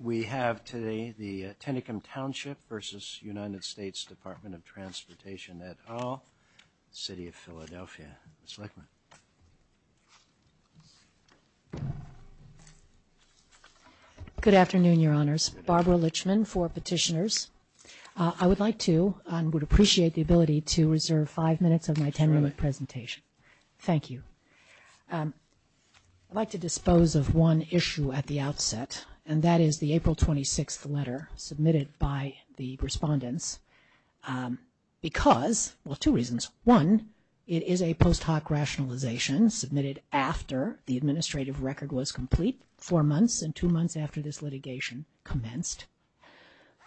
We have today the Tennecum Township versus United States Department of Transportation Etal, City of Philadelphia. Ms. Lichtman. Good afternoon, Your Honors. Barbara Lichtman, four petitioners. I would like to and would appreciate the ability to reserve five minutes of my ten-minute presentation. Thank you. I'd like to dispose of one issue at the outset, and that is the April 26th letter submitted by the respondents because, well, two reasons. One, it is a post hoc rationalization submitted after the administrative record was complete, four months and two months after this litigation commenced.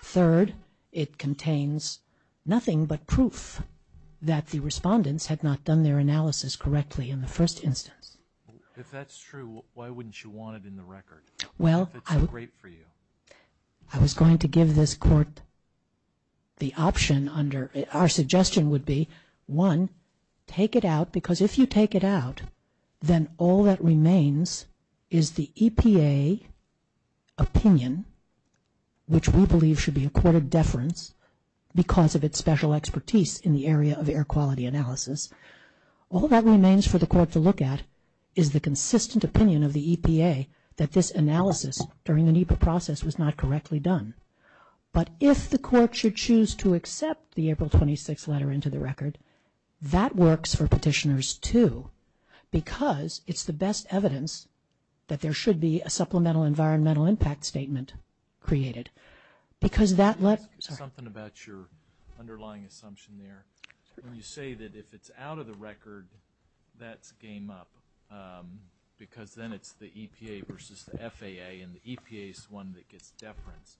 Third, it contains nothing but proof that the respondents had not done their analysis correctly in the first instance. If that's true, why wouldn't you want it in the record, if it's great for you? I was going to give this court the option under, our suggestion would be, one, take it out because if you take it out, then all that remains is the EPA opinion, which we believe should be accorded deference because of its special expertise in the area of air quality analysis. All that remains for the court to look at is the consistent opinion of the EPA that this analysis during the NEPA process was not correctly done. But if the court should choose to accept the April 26th letter into the record, that works for petitioners, too, because it's the best evidence that there should be a supplemental environmental impact statement created. Because that let's... Can I ask you something about your underlying assumption there? When you say that if it's out of the record, that's game up, because then it's the EPA versus the FAA, and the EPA is the one that gets deference.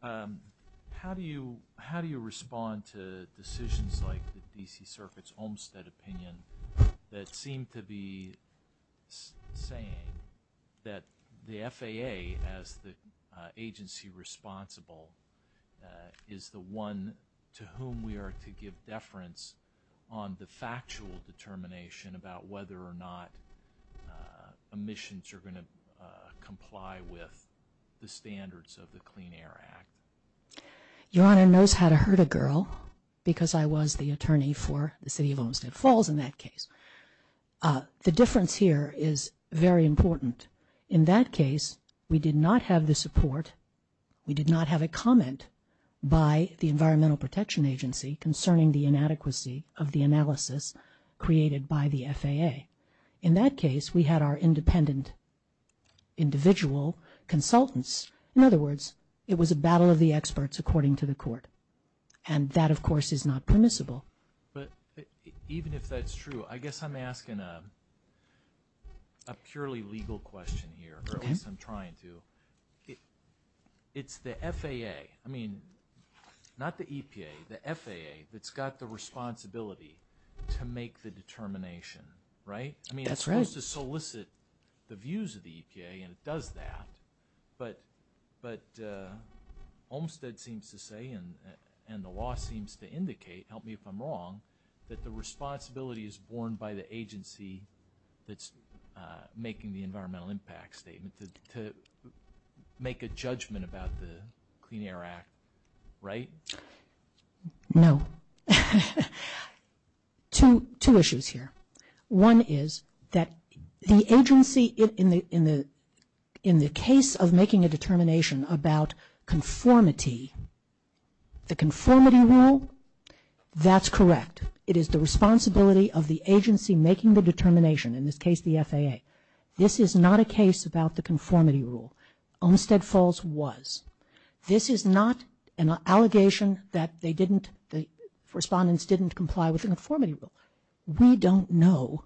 How do you respond to decisions like the D.C. Circuit's Olmstead opinion that seem to be saying that the FAA, as the agency responsible, is the one to whom we are to give deference on the factual determination about whether or not emissions are going to comply with the standards of the Clean Air Act? Your Honor knows how to hurt a girl, because I was the attorney for the City of Olmstead Falls in that case. The difference here is very important. In that case, we did not have the support, we did not have a comment by the Environmental Protection Agency concerning the inadequacy of the analysis created by the FAA. In that case, we had our independent individual consultants. In other words, it was a battle of the experts according to the court. And that, of course, is not permissible. But even if that's true, I guess I'm asking a purely legal question here, or at least I'm trying to. It's the FAA, I mean, not the EPA, the FAA that's got the responsibility to make the determination, right? That's right. I mean, it's supposed to solicit the views of the EPA, and it does that, but Olmstead seems to say, and the law seems to indicate, help me if I'm wrong, that the responsibility is borne by the agency that's making the environmental impact statement to make a judgment about the Clean Air Act, right? No. Two issues here. One is that the agency, in the case of making a determination about conformity, the conformity rule, that's correct. It is the responsibility of the agency making the determination, in this case the FAA. This is not a case about the conformity rule. Olmstead Falls was. This is not an allegation that they didn't, the respondents didn't comply with the conformity rule. We don't know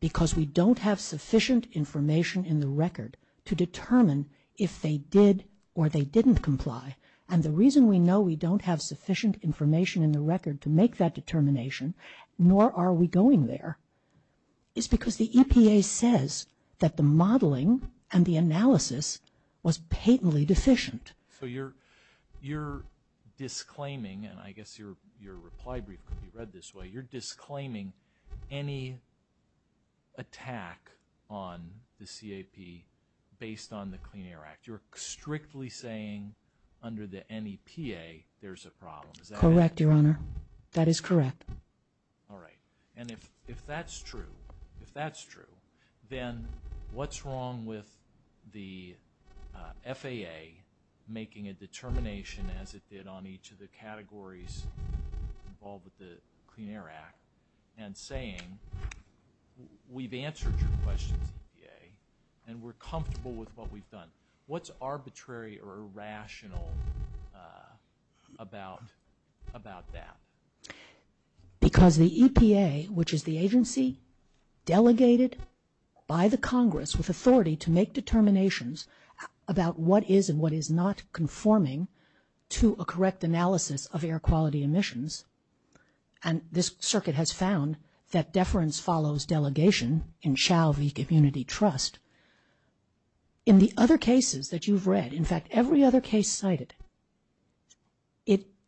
because we don't have sufficient information in the record to determine if they did or they didn't comply, and the reason we know we don't have sufficient information in the record to make that determination, nor are we going there, is because the EPA says that the modeling and the analysis was patently deficient. So you're disclaiming, and I guess your reply brief could be read this way, you're disclaiming any attack on the CAP based on the Clean Air Act. You're strictly saying under the NEPA there's a problem. Is that correct? Correct, Your Honor. That is correct. All right. And if that's true, if that's true, then what's wrong with the FAA making a determination as it did on each of the categories involved with the Clean Air Act and saying we've answered your questions, EPA, and we're comfortable with what we've done. What's arbitrary or irrational about that? Because the EPA, which is the agency delegated by the Congress with authority to make determinations about what is and what is not conforming to a correct analysis of air quality emissions, and this circuit has found that deference follows delegation in Chau v. Community Trust. In the other cases that you've read, in fact, every other case cited,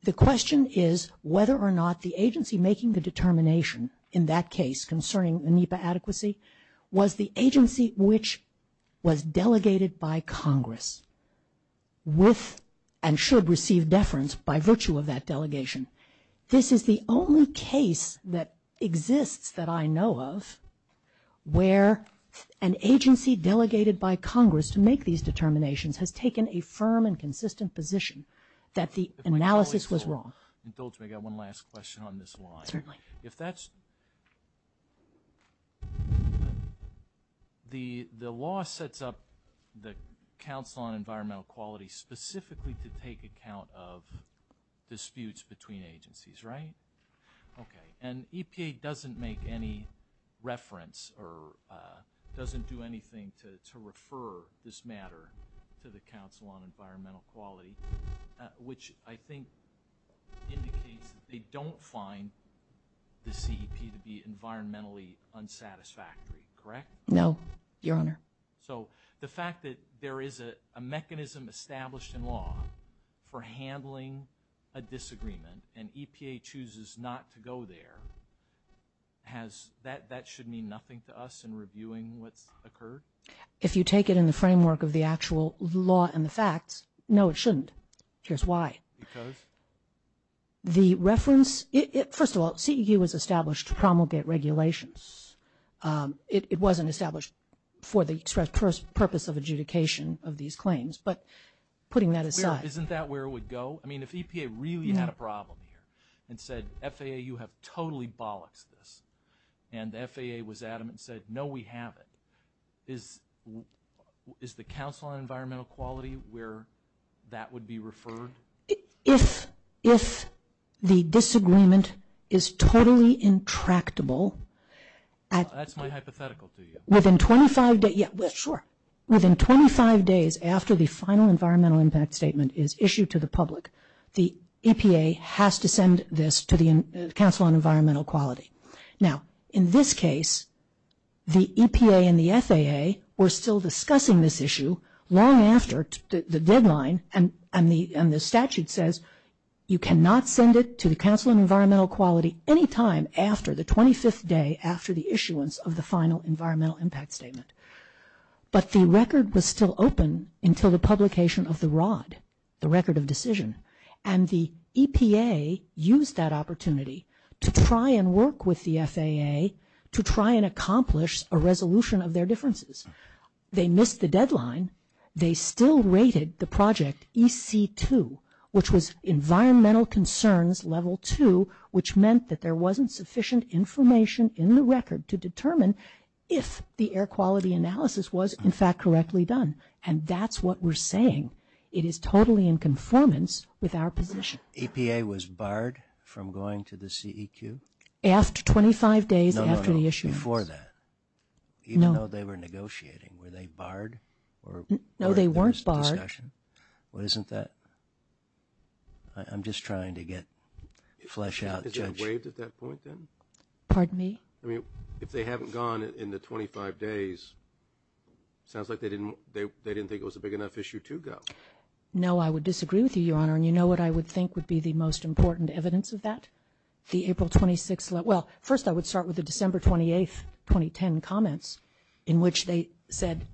the question is whether or not the agency making the determination in that case concerning the NEPA adequacy was the agency which was delegated by Congress with and should receive deference by virtue of that delegation. This is the only case that exists that I know of where an agency delegated by Congress to make these determinations has taken a firm and consistent position that the analysis was wrong. If I may, Your Honor, indulge me. I've got one last question on this line. Certainly. If that's... The law sets up the Council on Environmental Quality specifically to take account of disputes between agencies, right? Okay. And EPA doesn't make any reference or doesn't do anything to refer this matter to the Council on Environmental Quality, which I think indicates that they don't find the CEP to be environmentally unsatisfactory. Correct? No. Your Honor. So the fact that there is a mechanism established in law for handling a disagreement and EPA chooses not to go there, that should mean nothing to us in reviewing what's occurred? If you take it in the framework of the actual law and the facts, no, it shouldn't. Here's why. Because? The reference... First of all, CEQ was established to promulgate regulations. It wasn't established for the express purpose of adjudication of these claims, but putting that aside... Isn't that where it would go? I mean, if EPA really had a problem here and said, FAA, you have totally bollocked this, and FAA was adamant and said, no, we have it, is the Council on Environmental Quality where that would be referred? If the disagreement is totally intractable... That's my hypothetical to you. Within 25 days... Yeah, sure. Within 25 days after the final environmental impact statement is issued to the public, the EPA has to send this to the Council on Environmental Quality. Now, in this case, the EPA and the FAA were still discussing this issue long after the deadline and the statute says you cannot send it to the Council on Environmental Quality any time after the 25th day after the issuance of the final environmental impact statement. But the record was still open until the publication of the ROD, the Record of Decision, and the EPA used that opportunity to try and work with the FAA to try and accomplish a resolution of their differences. They missed the deadline. They still rated the project EC2, which was Environmental Concerns Level 2, which meant that there wasn't sufficient information in the record to determine if the air quality analysis was, in fact, correctly done. And that's what we're saying. It is totally in conformance with our position. EPA was barred from going to the CEQ? After 25 days after the issuance... No, no, no, before that. Even though they were negotiating, were they barred or were there discussions? No, they weren't barred. What isn't that? I'm just trying to get flesh out the judge. They weren't waived at that point then? Pardon me? I mean, if they haven't gone in the 25 days, sounds like they didn't think it was a big enough issue to go. No, I would disagree with you, Your Honor, and you know what I would think would be the most important evidence of that? The April 26th... Well, first I would start with the December 28th, 2010 comments in which they said,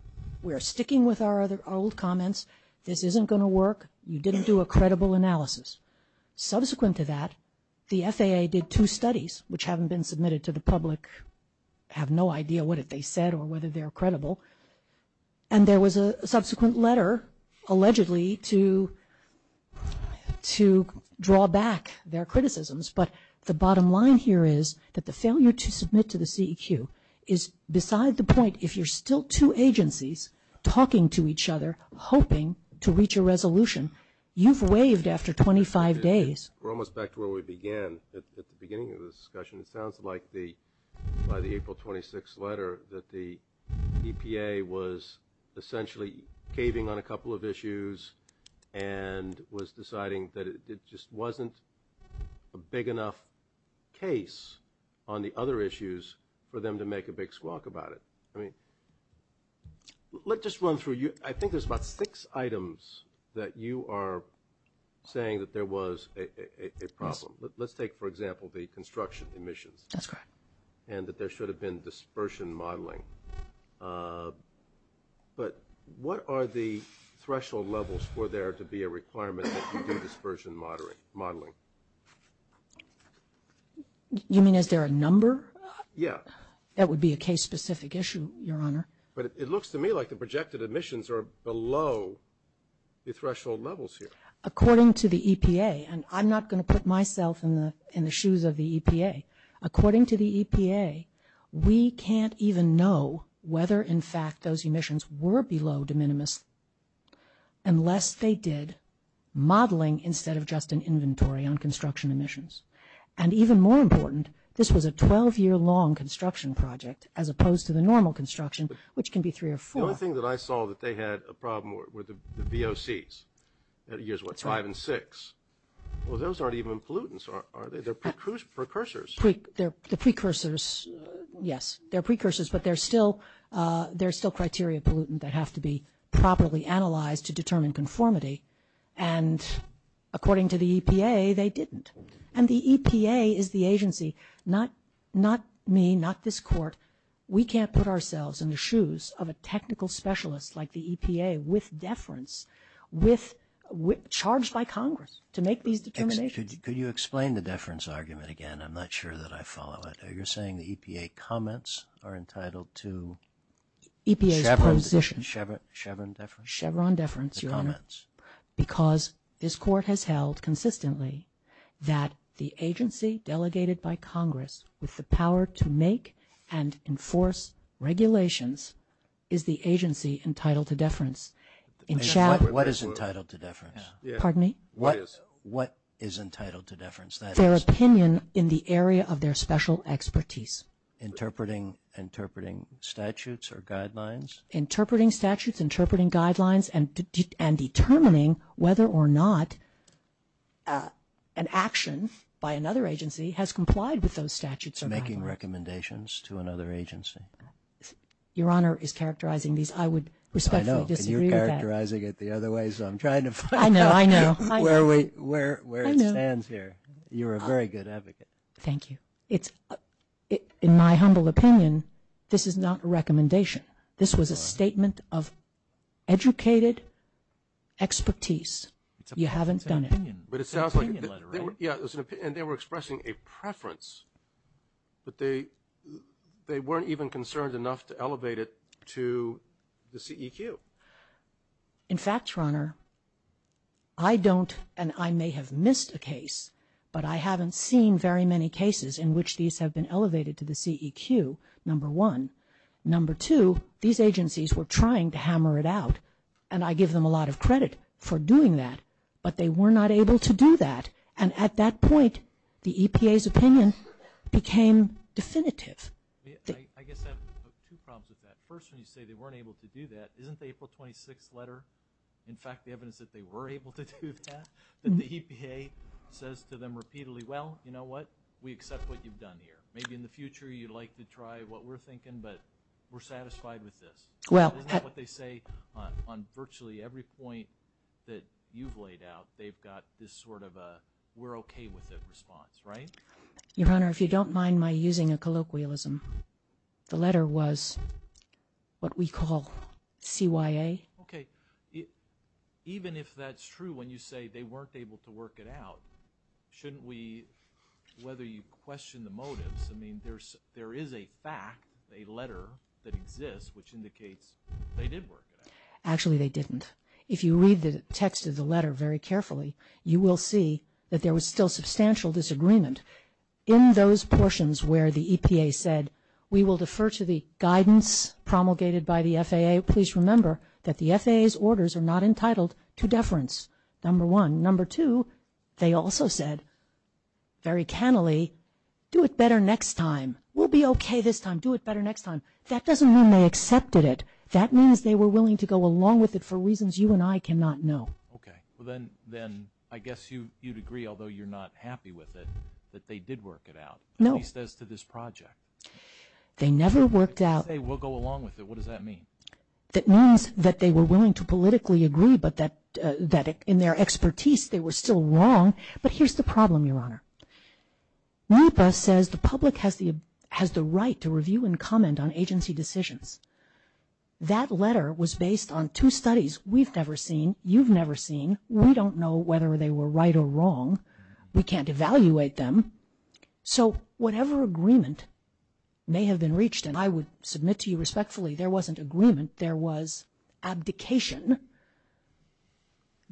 we're sticking with our old comments. This isn't going to work. You didn't do a credible analysis. Subsequent to that, the FAA did two studies, which haven't been submitted to the public, have no idea what they said or whether they're credible, and there was a subsequent letter allegedly to draw back their criticisms, but the bottom line here is that the failure to submit to the CEQ is beside the point. If you're still two agencies talking to each other, hoping to reach a resolution, you've got to do it after 25 days. We're almost back to where we began at the beginning of the discussion. It sounds like by the April 26th letter that the EPA was essentially caving on a couple of issues and was deciding that it just wasn't a big enough case on the other issues for them to make a big squawk about it. I mean, let's just run through. I think there's about six items that you are saying that there was a problem. Let's take, for example, the construction emissions and that there should have been dispersion modeling. But what are the threshold levels for there to be a requirement that you do dispersion modeling? You mean, is there a number? Yeah. That would be a case-specific issue, Your Honor. But it looks to me like the projected emissions are below the threshold levels here. According to the EPA, and I'm not going to put myself in the shoes of the EPA, according to the EPA, we can't even know whether, in fact, those emissions were below de minimis unless they did modeling instead of just an inventory on construction emissions. And even more important, this was a 12-year-long construction project as opposed to the normal construction, which can be three or four. The only thing that I saw that they had a problem with were the VOCs, years, what, five and six. Well, those aren't even pollutants, are they? They're precursors. The precursors, yes. They're precursors, but they're still criteria pollutant that have to be properly analyzed to determine conformity. And according to the EPA, they didn't. And the EPA is the agency, not me, not this Court. We can't put ourselves in the shoes of a technical specialist like the EPA with deference, charged by Congress to make these determinations. Could you explain the deference argument again? I'm not sure that I follow it. Are you saying the EPA comments are entitled to Chevron deference? Chevron deference, Your Honor. The comments. Because this Court has held consistently that the agency delegated by Congress with the power to make and enforce regulations is the agency entitled to deference. What is entitled to deference? Pardon me? What is entitled to deference? Their opinion in the area of their special expertise. Interpreting statutes or guidelines? Interpreting statutes, interpreting guidelines, and determining whether or not an action by another agency has complied with those statutes or guidelines. Making recommendations to another agency? Your Honor is characterizing these. I would respectfully disagree with that. I know. And you're characterizing it the other way, so I'm trying to find out where it stands here. I know. I know. You're a very good advocate. Thank you. In my humble opinion, this is not a recommendation. This was a statement of educated expertise. You haven't done it. It's an opinion. It's an opinion letter, right? And they were expressing a preference, but they weren't even concerned enough to elevate it to the CEQ. In fact, Your Honor, I don't, and I may have missed a case, but I haven't seen very many cases in which these have been elevated to the CEQ, number one. Number two, these agencies were trying to hammer it out, and I give them a lot of credit for doing that, but they were not able to do that. And at that point, the EPA's opinion became definitive. I guess I have two problems with that. First, when you say they weren't able to do that, isn't the April 26th letter, in fact, the evidence that they were able to do that, that the EPA says to them repeatedly, well, you know what? We accept what you've done here. Maybe in the future, you'd like to try what we're thinking, but we're satisfied with this. Isn't that what they say on virtually every point that you've laid out? They've got this sort of a we're okay with it response, right? Your Honor, if you don't mind my using a colloquialism, the letter was what we call CYA. Okay. Even if that's true, when you say they weren't able to work it out, shouldn't we, whether you question the motives, I mean, there is a fact, a letter that exists, which indicates they did work it out. Actually they didn't. If you read the text of the letter very carefully, you will see that there was still substantial disagreement. In those portions where the EPA said, we will defer to the guidance promulgated by the FAA, please remember that the FAA's orders are not entitled to deference, number one. Number two, they also said, very cannily, do it better next time. We'll be okay this time. Do it better next time. That doesn't mean they accepted it. That means they were willing to go along with it for reasons you and I cannot know. Okay. Well, then I guess you'd agree, although you're not happy with it, that they did work it out. No. At least as to this project. They never worked out. They say, we'll go along with it. What does that mean? That means that they were willing to politically agree, but that in their expertise, they were still wrong. But here's the problem, Your Honor, NEPA says the public has the right to review and comment on agency decisions. That letter was based on two studies we've never seen, you've never seen. We don't know whether they were right or wrong. We can't evaluate them. So whatever agreement may have been reached, and I would submit to you respectfully, there wasn't agreement. There was abdication.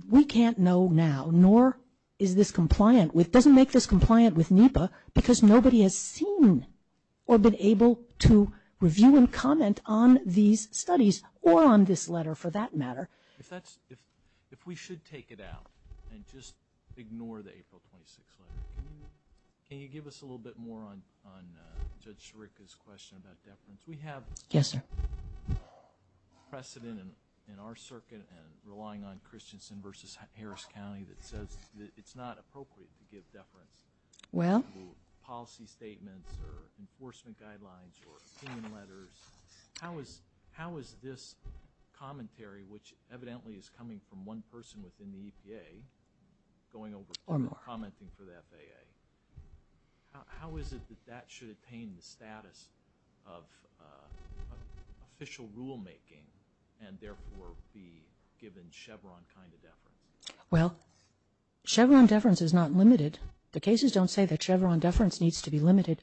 We can't know now, nor is this compliant with, doesn't make this compliant with NEPA because nobody has seen or been able to review and comment on these studies, or on this letter for that matter. If that's, if we should take it out and just ignore the April 26th letter, can you give us a little bit more on Judge Sirica's question about deference? We have precedent in our circuit and relying on Christensen v. Harris County that says it's not appropriate to give deference to policy statements or enforcement guidelines or opinion letters. How is this commentary, which evidently is coming from one person within the EPA, going over and commenting for the FAA? How is it that that should attain the status of official rulemaking and therefore be given Chevron kind of deference? Well, Chevron deference is not limited. The cases don't say that Chevron deference needs to be limited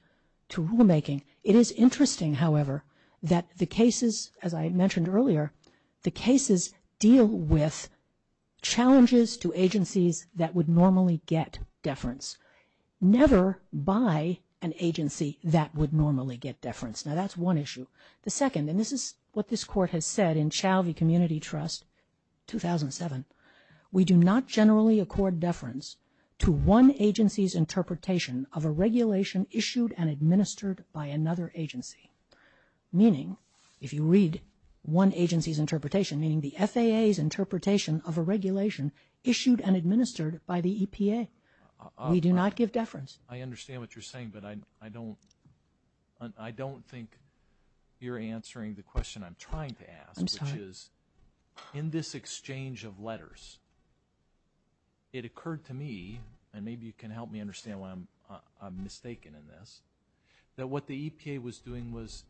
to rulemaking. It is interesting, however, that the cases, as I mentioned earlier, the cases deal with never by an agency that would normally get deference. Now, that's one issue. The second, and this is what this Court has said in Chalvie Community Trust, 2007, we do not generally accord deference to one agency's interpretation of a regulation issued and administered by another agency. Meaning, if you read one agency's interpretation, meaning the FAA's interpretation of a regulation issued and administered by the EPA. We do not give deference. I understand what you're saying, but I don't think you're answering the question I'm trying to ask. I'm sorry. Which is, in this exchange of letters, it occurred to me, and maybe you can help me understand why I'm mistaken in this, that what the EPA was doing was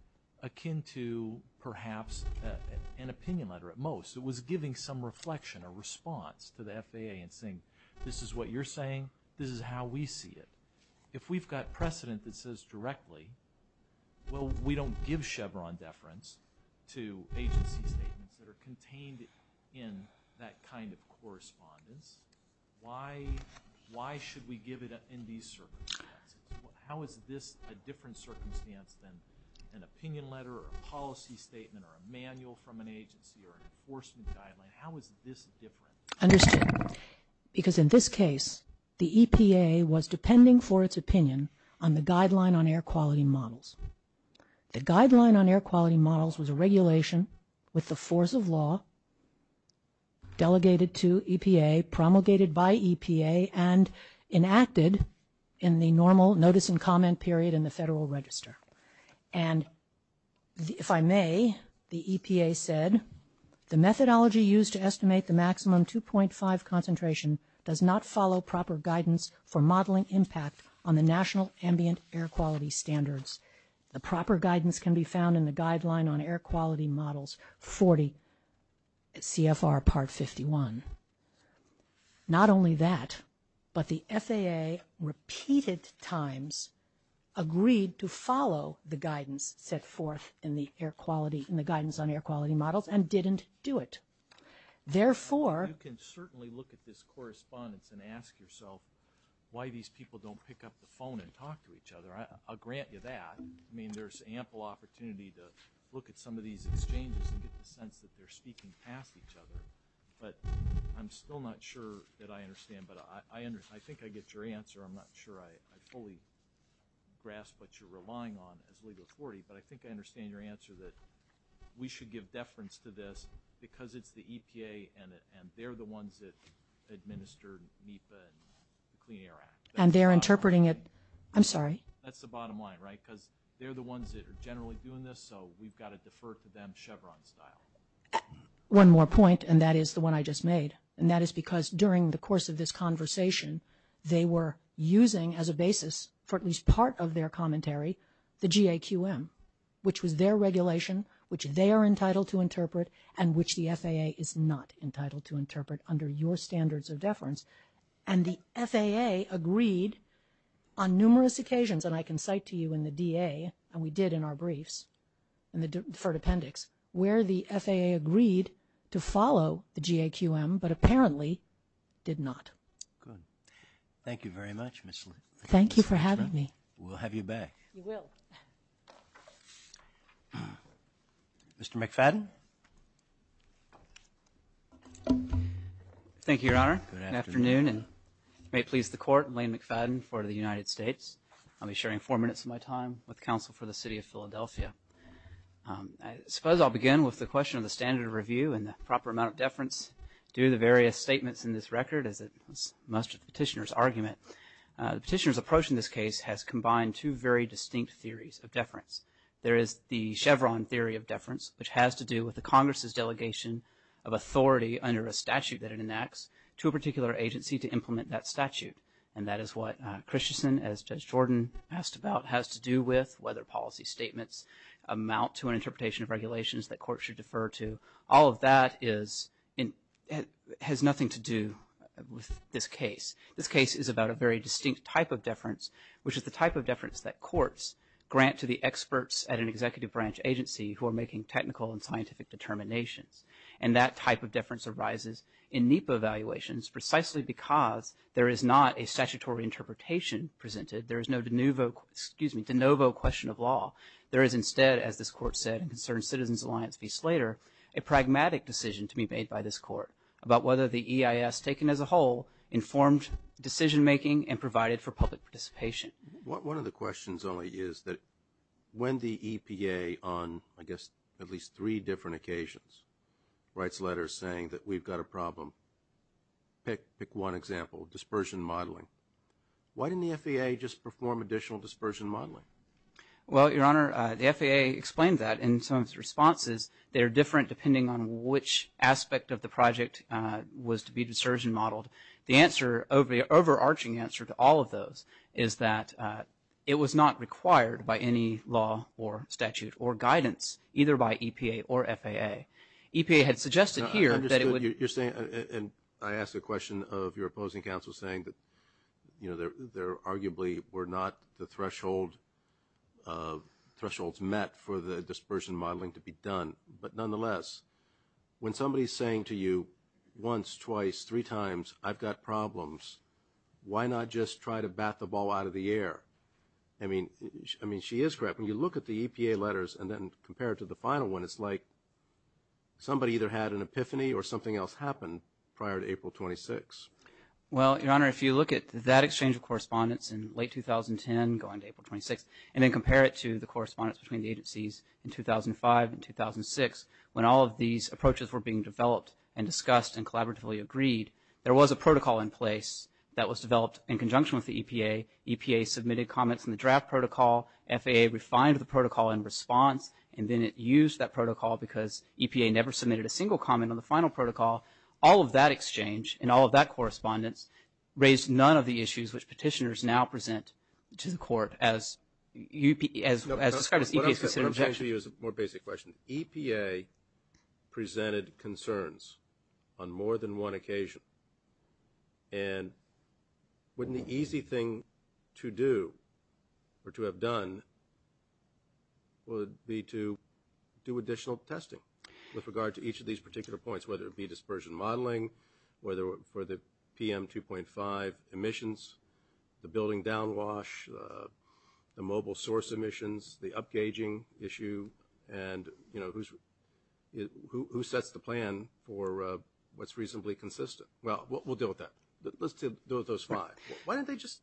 akin to, perhaps, an opinion letter at most. It was giving some reflection, a response to the FAA and saying, this is what you're saying, this is how we see it. If we've got precedent that says directly, well, we don't give Chevron deference to agency statements that are contained in that kind of correspondence. Why should we give it in these circumstances? How is this a different circumstance than an opinion letter or a policy statement or a manual from an agency or an enforcement guideline? How is this different? Understood. Because in this case, the EPA was depending for its opinion on the Guideline on Air Quality Models. The Guideline on Air Quality Models was a regulation with the force of law delegated to EPA, promulgated by EPA, and enacted in the normal notice and comment period in the Federal Register. And if I may, the EPA said, the methodology used to estimate the maximum 2.5 concentration does not follow proper guidance for modeling impact on the National Ambient Air Quality Standards. The proper guidance can be found in the Guideline on Air Quality Models 40 CFR Part 51. Not only that, but the FAA repeated times agreed to follow the guidance set forth in the Air Quality – in the Guidance on Air Quality Models and didn't do it. Therefore – You can certainly look at this correspondence and ask yourself why these people don't pick up the phone and talk to each other. I'll grant you that. I mean, there's ample opportunity to look at some of these exchanges and get the sense that they're speaking past each other. But I'm still not sure that I understand, but I think I get your answer. I'm not sure I fully grasp what you're relying on as legal authority, but I think I understand your answer that we should give deference to this because it's the EPA and they're the ones that administered NEPA and the Clean Air Act. And they're interpreting it – I'm sorry. That's the bottom line, right? Because they're the ones that are generally doing this, so we've got to defer to them in a Chevron style. One more point, and that is the one I just made, and that is because during the course of this conversation, they were using as a basis for at least part of their commentary the GAQM, which was their regulation, which they are entitled to interpret, and which the FAA is not entitled to interpret under your standards of deference. And the FAA agreed on numerous occasions, and I can cite to you in the DA, and we did in our briefs in the deferred appendix, where the FAA agreed to follow the GAQM, but apparently did not. Good. Thank you very much, Ms. Litt. Thank you for having me. We'll have you back. We will. Mr. McFadden. Thank you, Your Honor. Good afternoon. And may it please the Court, Elaine McFadden for the United States. I'll be sharing four minutes of my time with counsel for the City of Philadelphia. I suppose I'll begin with the question of the standard of review and the proper amount of deference. Due to the various statements in this record, as it was most of the petitioner's argument, the petitioner's approach in this case has combined two very distinct theories of deference. There is the Chevron theory of deference, which has to do with the Congress's delegation of authority under a statute that it enacts to a particular agency to implement that statute. And that is what Christensen, as Judge Jordan asked about, has to do with whether policy statements amount to an interpretation of regulations that courts should defer to. All of that has nothing to do with this case. This case is about a very distinct type of deference, which is the type of deference that courts grant to the experts at an executive branch agency who are making technical and scientific determinations. And that type of deference arises in NEPA evaluations precisely because there is not a statutory interpretation presented. There is no de novo question of law. There is instead, as this Court said in Concerned Citizens Alliance v. Slater, a pragmatic decision to be made by this Court about whether the EIS, taken as a whole, informed decision-making and provided for public participation. One of the questions only is that when the EPA on, I guess, at least three different occasions writes letters saying that we've got a problem, pick one example, dispersion modeling. Why didn't the FAA just perform additional dispersion modeling? Well, Your Honor, the FAA explained that in some of its responses. They're different depending on which aspect of the project was to be dispersed and modeled. The answer, the overarching answer to all of those, is that it was not required by any law or statute or guidance, either by EPA or FAA. EPA had suggested here that it would... I understand what you're saying. And I ask the question of your opposing counsel saying that, you know, there arguably were not the thresholds met for the dispersion modeling to be done. But nonetheless, when somebody's saying to you once, twice, three times, I've got problems, why not just try to bat the ball out of the air? I mean, she is correct. When you look at the EPA letters and then compare it to the final one, it's like somebody either had an epiphany or something else happened prior to April 26. Well, Your Honor, if you look at that exchange of correspondence in late 2010 going to April 26, and then compare it to the correspondence between the agencies in 2005 and 2006, when all of these approaches were being developed and discussed and collaboratively agreed, there was a protocol in place that was developed in conjunction with the EPA, EPA submitted comments in the draft protocol, FAA refined the protocol in response, and then it used that protocol because EPA never submitted a single comment on the final protocol. All of that exchange and all of that correspondence raised none of the issues which petitioners now present to the court as described as EPA's considered objections. What I'm saying to you is a more basic question. EPA presented concerns on more than one occasion. And wouldn't the easy thing to do or to have done would be to do additional testing with regard to each of these particular points, whether it be dispersion modeling, whether it be building downwash, the mobile source emissions, the upgaging issue, and, you know, who sets the plan for what's reasonably consistent? Well, we'll deal with that. Let's deal with those five. Why don't they just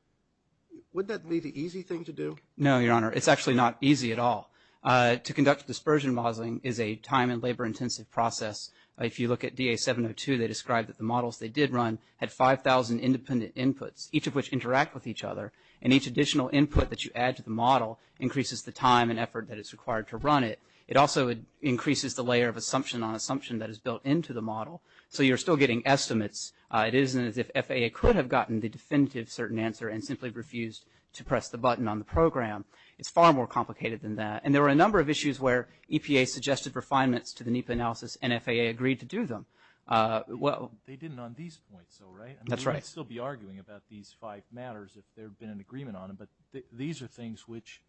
– wouldn't that be the easy thing to do? No, Your Honor. It's actually not easy at all. To conduct dispersion modeling is a time and labor-intensive process. If you look at DA 702, they described that the models they did run had 5,000 independent inputs, each of which interact with each other, and each additional input that you add to the model increases the time and effort that is required to run it. It also increases the layer of assumption on assumption that is built into the model. So you're still getting estimates. It isn't as if FAA could have gotten the definitive certain answer and simply refused to press the button on the program. It's far more complicated than that. And there were a number of issues where EPA suggested refinements to the NEPA analysis and FAA agreed to do them. Well – They didn't on these points, though, right? That's right. I'd still be arguing about these five matters if there had been an agreement on them, but these are things which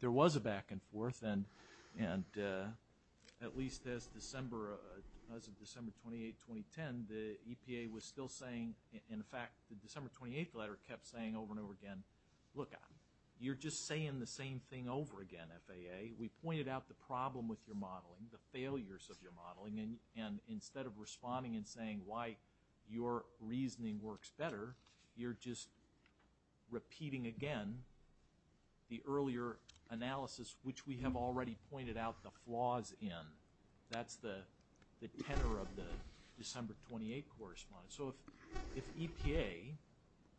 there was a back-and-forth, and at least as of December 28, 2010, the EPA was still saying – in fact, the December 28th letter kept saying over and over again, look, you're just saying the same thing over again, FAA. We pointed out the problem with your modeling, the failures of your modeling, and instead of responding and saying why your reasoning works better, you're just repeating again the earlier analysis, which we have already pointed out the flaws in. That's the tenor of the December 28 correspondence. So if EPA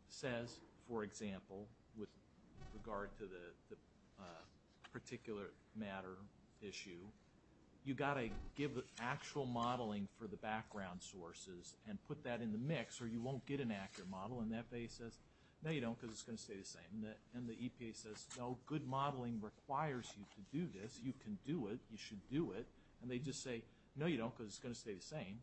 says, for example, with regard to the particular matter issue, you've got to give actual modeling for the background sources and put that in the mix or you won't get an accurate model, and FAA says, no, you don't, because it's going to stay the same, and the EPA says, no, good modeling requires you to do this, you can do it, you should do it, and they just say, no, you don't, because it's going to stay the same,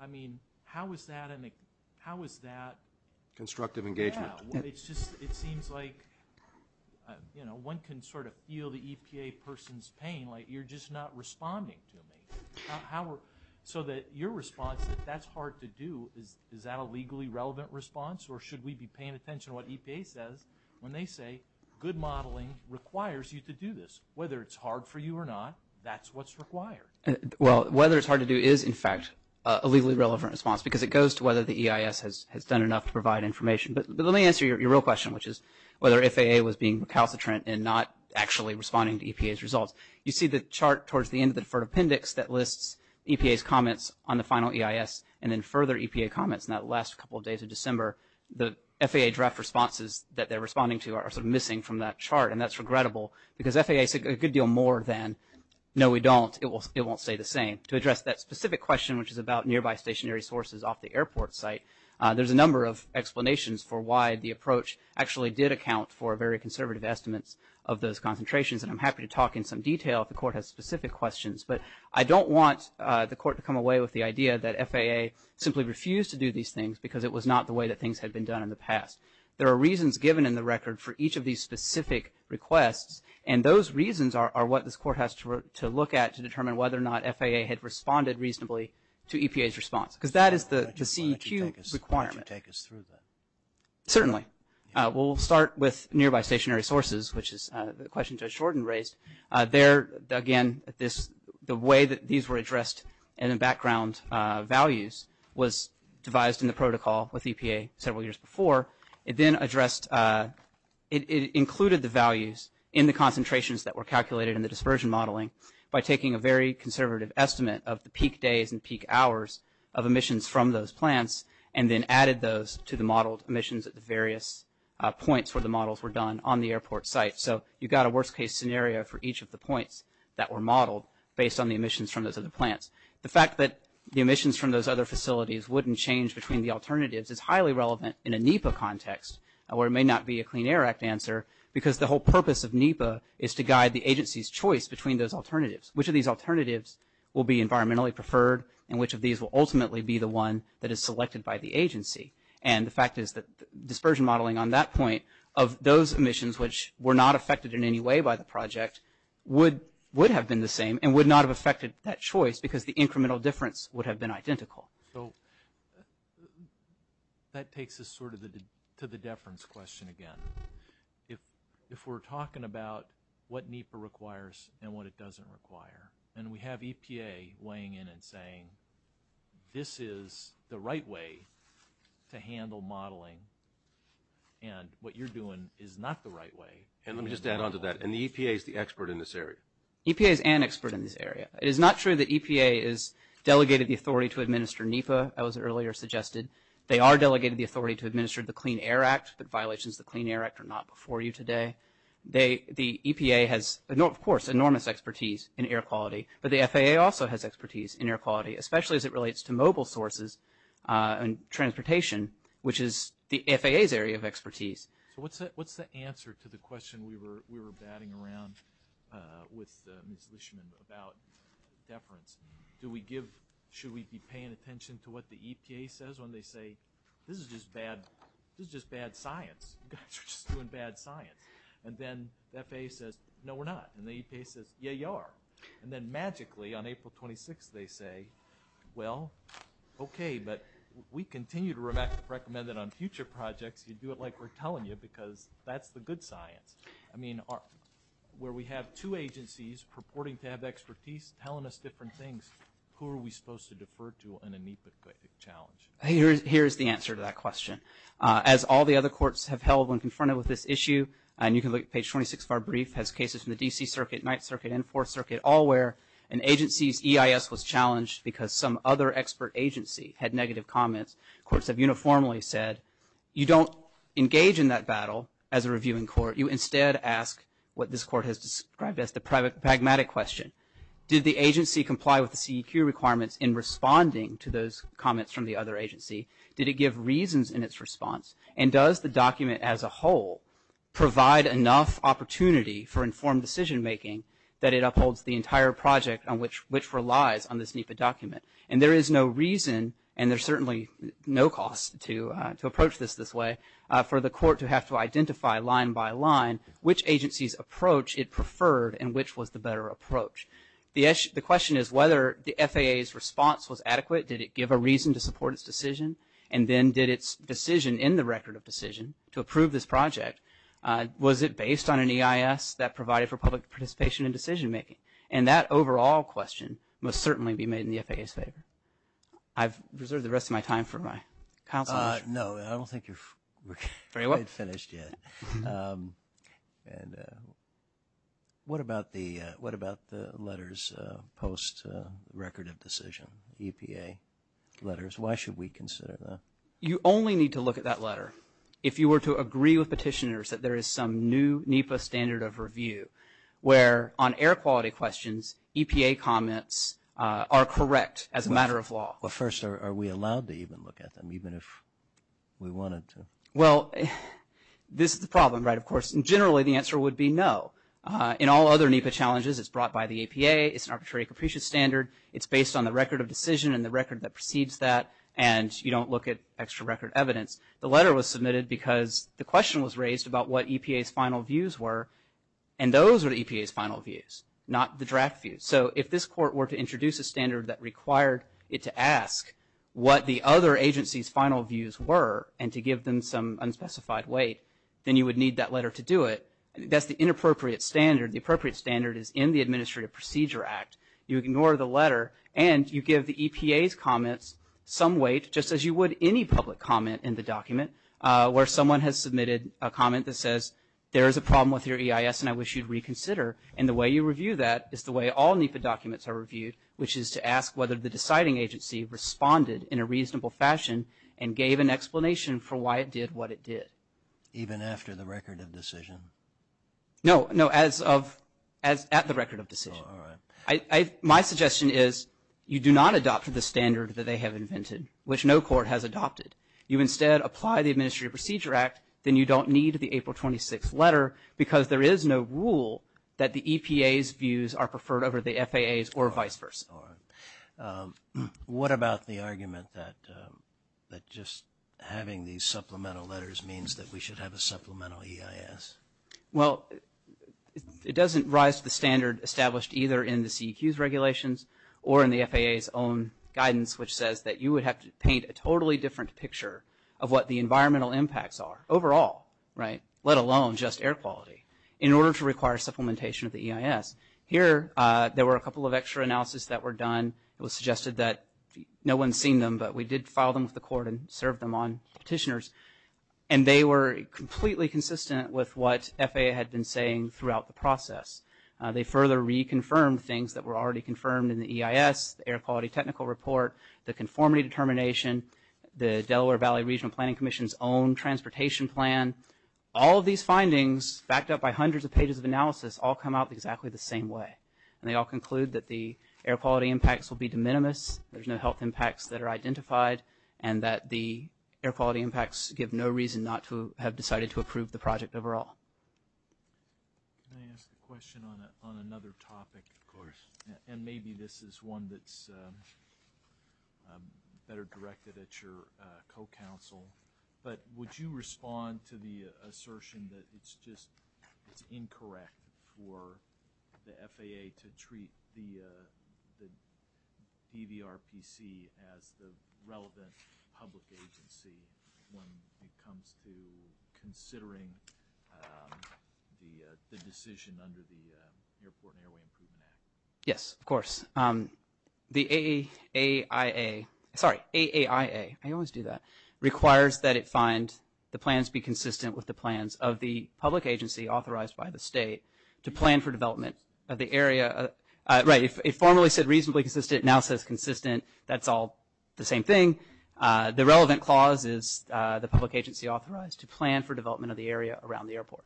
I mean, how is that – how is that – Constructive engagement. Yeah. It's just – it seems like, you know, one can sort of feel the EPA person's pain, like you're just not responding to me. So that your response, that that's hard to do, is that a legally relevant response, or should we be paying attention to what EPA says when they say, good modeling requires you to do this? Whether it's hard for you or not, that's what's required. Well, whether it's hard to do is, in fact, a legally relevant response, because it goes to whether the EIS has done enough to provide information, but let me answer your real question, which is whether FAA was being recalcitrant and not actually responding to EPA's results. You see the chart towards the end of the deferred appendix that lists EPA's comments on the final EIS, and then further EPA comments in that last couple of days of December. The FAA draft responses that they're responding to are sort of missing from that chart, and that's regrettable, because FAA said a good deal more than, no, we don't, it won't stay the same. To address that specific question, which is about nearby stationary sources off the airport site, there's a number of explanations for why the approach actually did account for very conservative estimates of those concentrations, and I'm happy to talk in some detail if the court has specific questions, but I don't want the court to come away with the idea that FAA simply refused to do these things because it was not the way that things had been done in the past. There are reasons given in the record for each of these specific requests, and those reasons are what this court has to look at to determine whether or not FAA had responded reasonably to EPA's response, because that is the CEQ requirement. Why don't you take us through that? Certainly. Okay. We'll start with nearby stationary sources, which is the question Judge Shorten raised. There, again, this, the way that these were addressed in the background values was devised in the protocol with EPA several years before. It then addressed, it included the values in the concentrations that were calculated in the dispersion modeling by taking a very conservative estimate of the peak days and peak hours of emissions from those plants, and then added those to the modeled emissions at the various points where the models were done on the airport site. So you've got a worst case scenario for each of the points that were modeled based on the emissions from those other plants. The fact that the emissions from those other facilities wouldn't change between the alternatives is highly relevant in a NEPA context, or it may not be a Clean Air Act answer, because the whole purpose of NEPA is to guide the agency's choice between those alternatives. Which of these alternatives will be environmentally preferred, and which of these will ultimately be the one that is selected by the agency? And the fact is that dispersion modeling on that point of those emissions, which were not affected in any way by the project, would have been the same and would not have affected that choice because the incremental difference would have been identical. So that takes us sort of to the deference question again. If we're talking about what NEPA requires and what it doesn't require, and we have EPA weighing in and saying, this is the right way to handle modeling and what you're doing is not the right way. And let me just add on to that, and the EPA is the expert in this area. EPA is an expert in this area. It is not true that EPA has delegated the authority to administer NEPA, as was earlier suggested. They are delegated the authority to administer the Clean Air Act, but violations of the Clean Air Act are not before you today. The EPA has, of course, enormous expertise in air quality, but the FAA also has expertise in air quality, especially as it relates to mobile sources and transportation, which is the FAA's area of expertise. So what's the answer to the question we were batting around with Ms. Lishman about deference? Do we give, should we be paying attention to what the EPA says when they say, this is just bad science. And then the FAA says, no, we're not, and the EPA says, yeah, you are, and then magically on April 26th they say, well, okay, but we continue to recommend that on future projects you do it like we're telling you because that's the good science. I mean, where we have two agencies purporting to have expertise telling us different things, who are we supposed to defer to in a NEPA challenge? Here's the answer to that question. As all the other courts have held when confronted with this issue, and you can look at page 26 of our brief, has cases from the D.C. Circuit, Ninth Circuit, and Fourth Circuit, all where an agency's EIS was challenged because some other expert agency had negative comments. Courts have uniformly said, you don't engage in that battle as a reviewing court. You instead ask what this court has described as the pragmatic question. Did the agency comply with the CEQ requirements in responding to those comments from the other agency? Did it give reasons in its response? And does the document as a whole provide enough opportunity for informed decision making that it upholds the entire project on which relies on this NEPA document? And there is no reason, and there's certainly no cost to approach this this way, for the court to have to identify line by line which agency's approach it preferred and which was the better approach. The question is whether the FAA's response was adequate. Did it give a reason to support its decision? And then did its decision in the Record of Decision to approve this project, was it based on an EIS that provided for public participation in decision making? And that overall question must certainly be made in the FAA's favor. I've reserved the rest of my time for my counsel. No, I don't think you're finished yet. And what about the letters post Record of Decision, EPA letters? Why should we consider that? You only need to look at that letter if you were to agree with petitioners that there is some new NEPA standard of review where on air quality questions, EPA comments are correct as a matter of law. But first, are we allowed to even look at them, even if we wanted to? Well, this is the problem, right? Of course, generally the answer would be no. In all other NEPA challenges, it's brought by the EPA, it's an arbitrary capricious standard, it's based on the Record of Decision and the record that precedes that, and you don't look at extra record evidence. The letter was submitted because the question was raised about what EPA's final views were, and those are the EPA's final views, not the draft views. So if this court were to introduce a standard that required it to ask what the other agency's final views were, and to give them some unspecified weight, then you would need that letter to do it. That's the inappropriate standard. The appropriate standard is in the Administrative Procedure Act. You ignore the letter, and you give the EPA's comments some weight, just as you would any public comment in the document, where someone has submitted a comment that says there is a problem with your EIS and I wish you'd reconsider. And the way you review that is the way all NEPA documents are reviewed, which is to ask whether the deciding agency responded in a reasonable fashion and gave an explanation for why it did what it did. Even after the Record of Decision? No, no, as of, at the Record of Decision. My suggestion is you do not adopt the standard that they have invented, which no court has adopted. You instead apply the Administrative Procedure Act, then you don't need the April 26th letter because there is no rule that the EPA's views are preferred over the FAA's or vice versa. What about the argument that just having these supplemental letters means that we should have a supplemental EIS? Well, it doesn't rise to the standard established either in the CEQ's regulations or in the FAA's own guidance, which says that you would have to paint a totally different picture of what the environmental impacts are overall, right, let alone just air quality, in order to require supplementation of the EIS. Here there were a couple of extra analysis that were done, it was suggested that no one seen them, but we did file them with the court and serve them on petitioners. And they were completely consistent with what FAA had been saying throughout the process. They further reconfirmed things that were already confirmed in the EIS, the Air Quality Technical Report, the Conformity Determination, the Delaware Valley Regional Planning Commission's own transportation plan. All of these findings, backed up by hundreds of pages of analysis, all come out exactly the same way. And they all conclude that the air quality impacts will be de minimis, there's no health impacts that are identified, and that the air quality impacts give no reason not to have decided to approve the project overall. Can I ask a question on another topic? Of course. And maybe this is one that's better directed at your co-counsel, but would you respond to the assertion that it's just, it's incorrect for the FAA to treat the DVRPC as the relevant public agency when it comes to considering the decision under the Airport and Airway Improvement Act? Yes, of course. The AAIA, sorry, AAIA, I always do that, requires that it find the plans be consistent with the plans of the public agency authorized by the state to plan for development of the area. Right, it formerly said reasonably consistent, now says consistent, that's all the same thing. The relevant clause is the public agency authorized to plan for development of the area around the airport.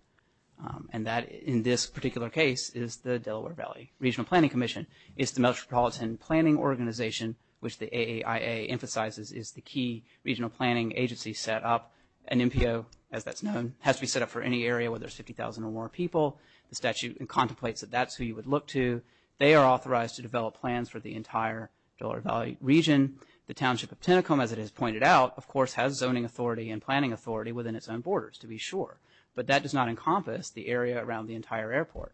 And that, in this particular case, is the Delaware Valley Regional Planning Commission. It's the Metropolitan Planning Organization, which the AAIA emphasizes is the key regional planning agency set up. An MPO, as that's known, has to be set up for any area where there's 50,000 or more people. The statute contemplates that that's who you would look to. They are authorized to develop plans for the entire Delaware Valley region. The Township of Tentacombe, as it is pointed out, of course, has zoning authority and planning authority within its own borders, to be sure. But that does not encompass the area around the entire airport.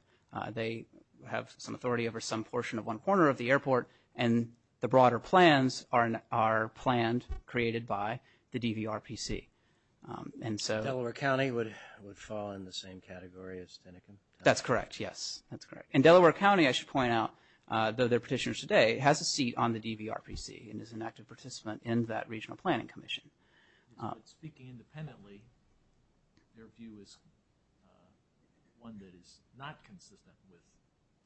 They have some authority over some portion of one corner of the airport, and the broader plans are planned, created by the DVRPC. And so... Delaware County would fall in the same category as Tentacombe? That's correct, yes. That's correct. And Delaware County, I should point out, though they're petitioners today, has a seat on the DVRPC and is an active participant in that Regional Planning Commission. But speaking independently, their view is one that is not consistent with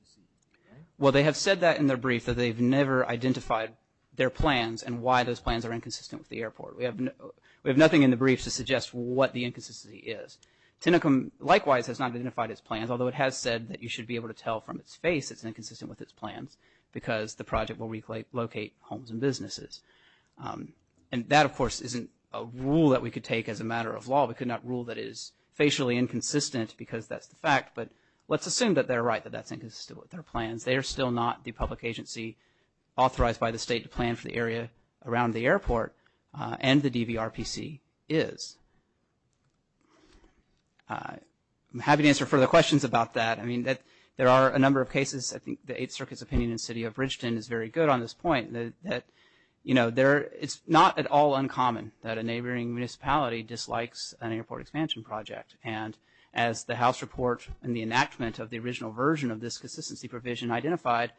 the seat, correct? Well, they have said that in their brief, that they've never identified their plans and why those plans are inconsistent with the airport. We have nothing in the brief to suggest what the inconsistency is. Tentacombe, likewise, has not identified its plans, although it has said that you should be able to tell from its face it's inconsistent with its plans, because the project will relocate homes and businesses. And that, of course, isn't a rule that we could take as a matter of law. We could not rule that it is facially inconsistent, because that's the fact. But let's assume that they're right, that that's inconsistent with their plans. They are still not the public agency authorized by the state to plan for the area around the and the DVRPC is. I'm happy to answer further questions about that. I mean, there are a number of cases. I think the Eighth Circuit's opinion in the City of Bridgeton is very good on this point, that, you know, it's not at all uncommon that a neighboring municipality dislikes an airport expansion project. And as the House report and the enactment of the original version of this consistency provision identified,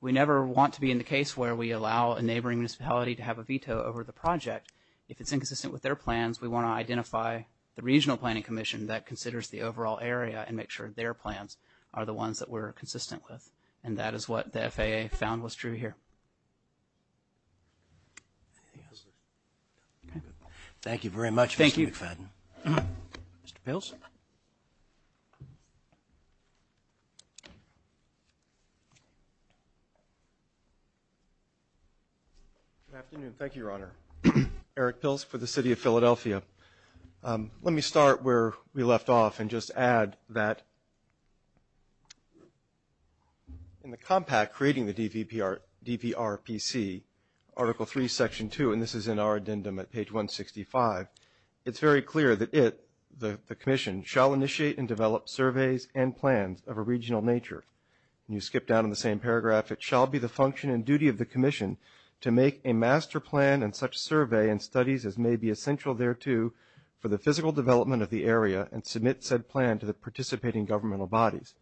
we never want to be in the case where we allow a neighboring municipality to have a veto over the project. If it's inconsistent with their plans, we want to identify the Regional Planning Commission that considers the overall area and make sure their plans are the ones that we're consistent with. And that is what the FAA found was true here. Thank you very much, Mr. McFadden. Mr. Pills. Good afternoon. Thank you, Your Honor. Eric Pills for the City of Philadelphia. Let me start where we left off and just add that in the compact creating the DVRPC, Article III, Section 2, and this is in our addendum at page 165, it's very clear that it, the commission, shall initiate and develop surveys and plans of a regional nature. When you skip down in the same paragraph, it shall be the function and duty of the commission to make a master plan and such survey and studies as may be essential thereto for the physical development of the area and submit said plan to the participating governmental bodies.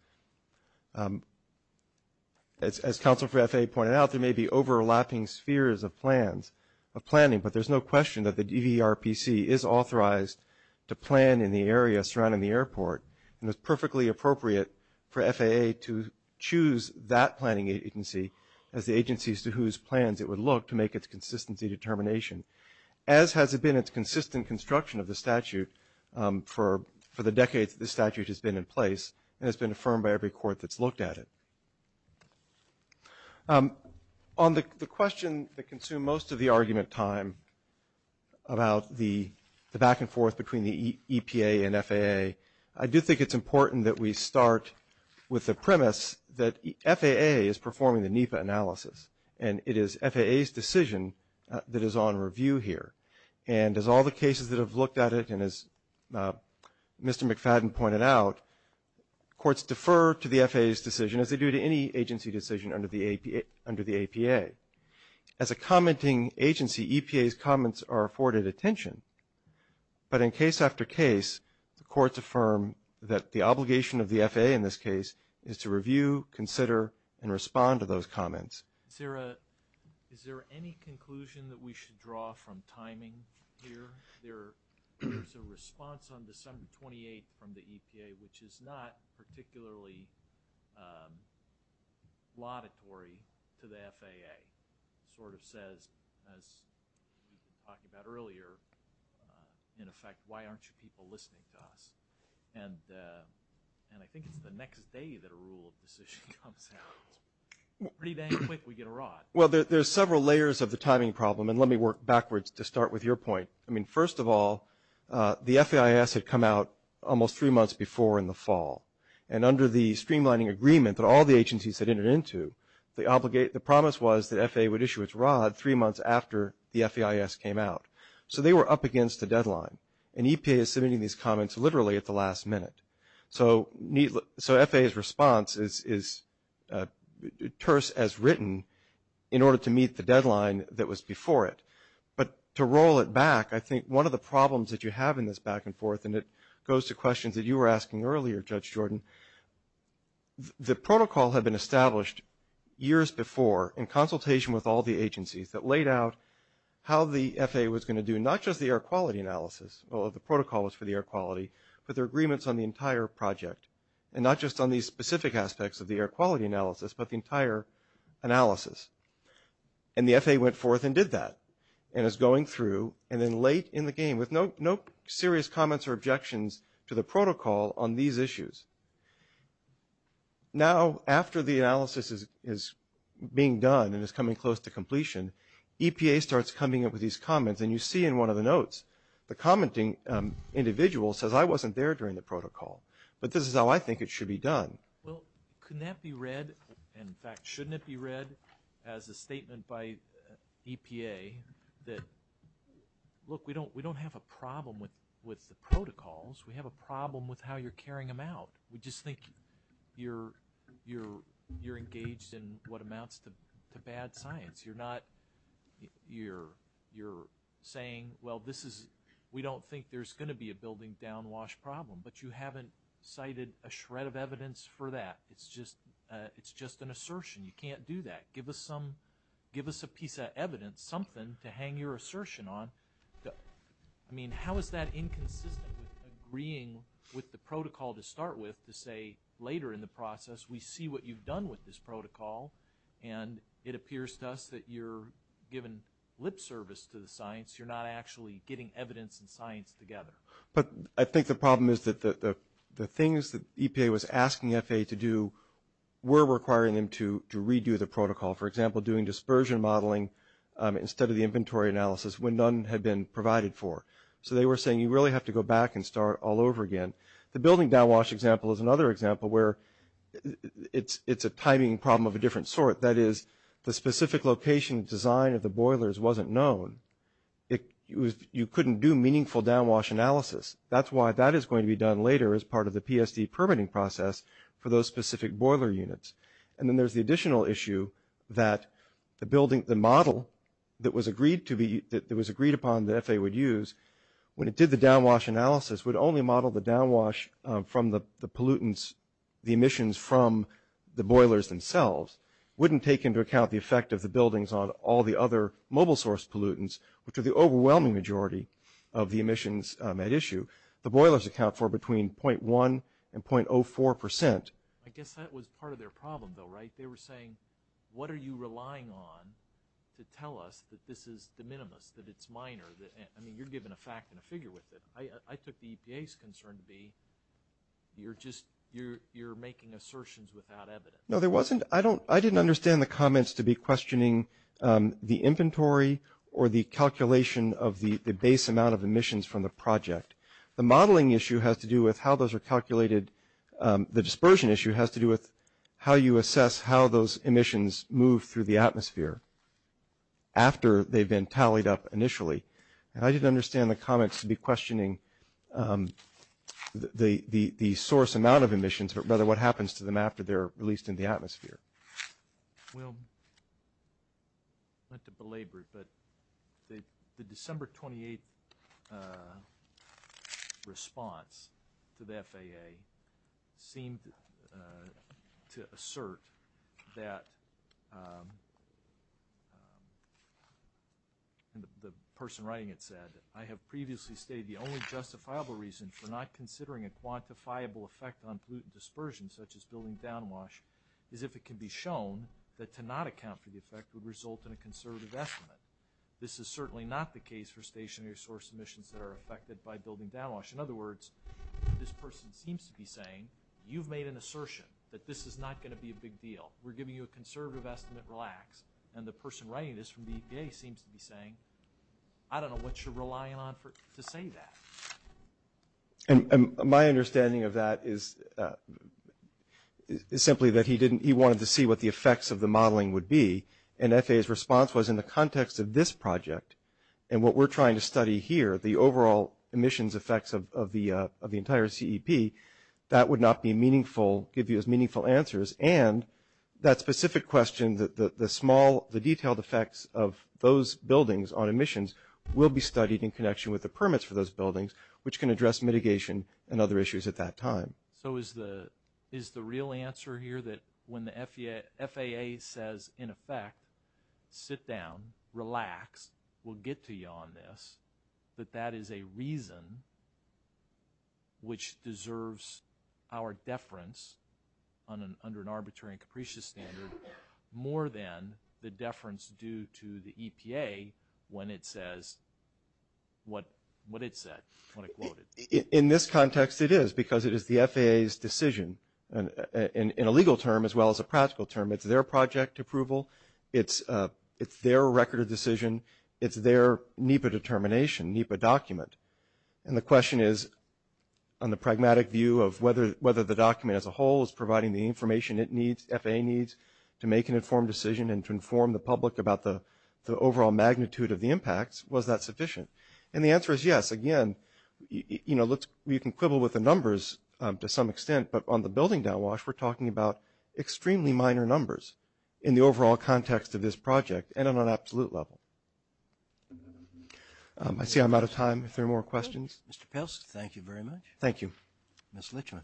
As counsel for FAA pointed out, there may be overlapping spheres of plans, of planning, but there's no question that the DVRPC is authorized to plan in the area surrounding the airport and it's perfectly appropriate for FAA to choose that planning agency as the agencies to whose plans it would look to make its consistency determination. As has it been its consistent construction of the statute for the decades this statute has been in place and has been affirmed by every court that's looked at it. On the question that consumed most of the argument time about the back and forth between the EPA and FAA, I do think it's important that we start with the premise that FAA is performing the NEPA analysis and it is FAA's decision that is on review here. And as all the cases that have looked at it and as Mr. McFadden pointed out, courts defer to the FAA's decision as they do to any agency decision under the APA. As a commenting agency, EPA's comments are afforded attention. But in case after case, the courts affirm that the obligation of the FAA in this case is to review, consider, and respond to those comments. Is there any conclusion that we should draw from timing here? There's a response on December 28 from the EPA which is not particularly laudatory to the FAA. It sort of says, as we talked about earlier, in effect, why aren't you people listening to us? And I think it's the next day that a rule of decision comes out. Pretty dang quick we get a rod. Well, there's several layers of the timing problem, and let me work backwards to start with your point. I mean, first of all, the FAIS had come out almost three months before in the fall. And under the streamlining agreement that all the agencies had entered into, the promise was that FAA would issue its rod three months after the FAIS came out. So they were up against a deadline. And EPA is submitting these comments literally at the last minute. So FAA's response is terse as written in order to meet the deadline that was before it. But to roll it back, I think one of the problems that you have in this back and forth, and it goes to questions that you were asking earlier, Judge Jordan, the protocol had been established years before in consultation with all the agencies that laid out how the FAA was or the protocol was for the air quality, but there are agreements on the entire project, and not just on these specific aspects of the air quality analysis, but the entire analysis. And the FAA went forth and did that, and is going through, and then late in the game, with no serious comments or objections to the protocol on these issues. Now after the analysis is being done and is coming close to completion, EPA starts coming up with these comments, and you see in one of the notes, the commenting individual says, I wasn't there during the protocol, but this is how I think it should be done. Well, couldn't that be read, in fact, shouldn't it be read as a statement by EPA that, look, we don't have a problem with the protocols, we have a problem with how you're carrying them out. We just think you're engaged in what amounts to bad science. You're saying, well, we don't think there's going to be a building down wash problem, but you haven't cited a shred of evidence for that. It's just an assertion, you can't do that. Give us a piece of evidence, something to hang your assertion on. I mean, how is that inconsistent with agreeing with the protocol to start with, to say later in the process, we see what you've done with this protocol, and it appears to us that you're giving lip service to the science, you're not actually getting evidence and science together. But I think the problem is that the things that EPA was asking FAA to do were requiring them to redo the protocol. For example, doing dispersion modeling instead of the inventory analysis when none had been provided for. So they were saying, you really have to go back and start all over again. The building down wash example is another example where it's a timing problem of a different sort. That is, the specific location design of the boilers wasn't known. You couldn't do meaningful down wash analysis. That's why that is going to be done later as part of the PSD permitting process for those specific boiler units. And then there's the additional issue that the model that was agreed upon that FAA would use, when it did the down wash analysis, would only model the down wash from the pollutants, the emissions from the boilers themselves, wouldn't take into account the effect of the buildings on all the other mobile source pollutants, which are the overwhelming majority of the emissions at issue. The boilers account for between 0.1 and 0.04 percent. I guess that was part of their problem, though, right? They were saying, what are you relying on to tell us that this is de minimis, that it's minor? I mean, you're given a fact and a figure with it. I took the EPA's concern to be you're making assertions without evidence. No, there wasn't. I didn't understand the comments to be questioning the inventory or the calculation of the base amount of emissions from the project. The modeling issue has to do with how those are calculated. The dispersion issue has to do with how you assess how those emissions move through the atmosphere, after they've been tallied up initially. And I didn't understand the comments to be questioning the source amount of emissions, but rather what happens to them after they're released into the atmosphere. Well, not to belabor it, but the December 28 response to the FAA seemed to assert that, and the person writing it said, I have previously stated the only justifiable reason for not considering a quantifiable effect on pollutant dispersion, such as building downwash, is if it can be shown that to not account for the effect would result in a conservative estimate. This is certainly not the case for stationary source emissions that are affected by building downwash. In other words, this person seems to be saying, you've made an assertion that this is not going to be a big deal. We're giving you a conservative estimate. Relax. And the person writing this from the EPA seems to be saying, I don't know what you're relying on to say that. And my understanding of that is simply that he wanted to see what the effects of the modeling would be, and FAA's response was in the context of this project and what we're trying to study here, the overall emissions effects of the entire CEP, that would not be meaningful, give you as meaningful answers, and that specific question, the small, the detailed effects of those buildings on emissions, will be studied in connection with the permits for those buildings, which can address mitigation and other issues at that time. So is the real answer here that when the FAA says, in effect, sit down, relax, we'll get to you on this, that that is a reason which deserves our deference under an arbitrary and capricious standard, more than the deference due to the EPA when it says what it said, when it quoted. In this context, it is, because it is the FAA's decision in a legal term as well as a practical term. It's their project approval. It's their record of decision. It's their NEPA determination, NEPA document. And the question is, on the pragmatic view of whether the document as a whole is providing the information it needs, FAA needs, to make an informed decision and to inform the public about the overall magnitude of the impacts, was that sufficient? And the answer is yes. Again, you know, you can quibble with the numbers to some extent, but on the building downwash, we're talking about extremely minor numbers in the overall context of this project and on an absolute level. I see I'm out of time. If there are more questions. Thank you very much. Thank you. Ms. Lichtman.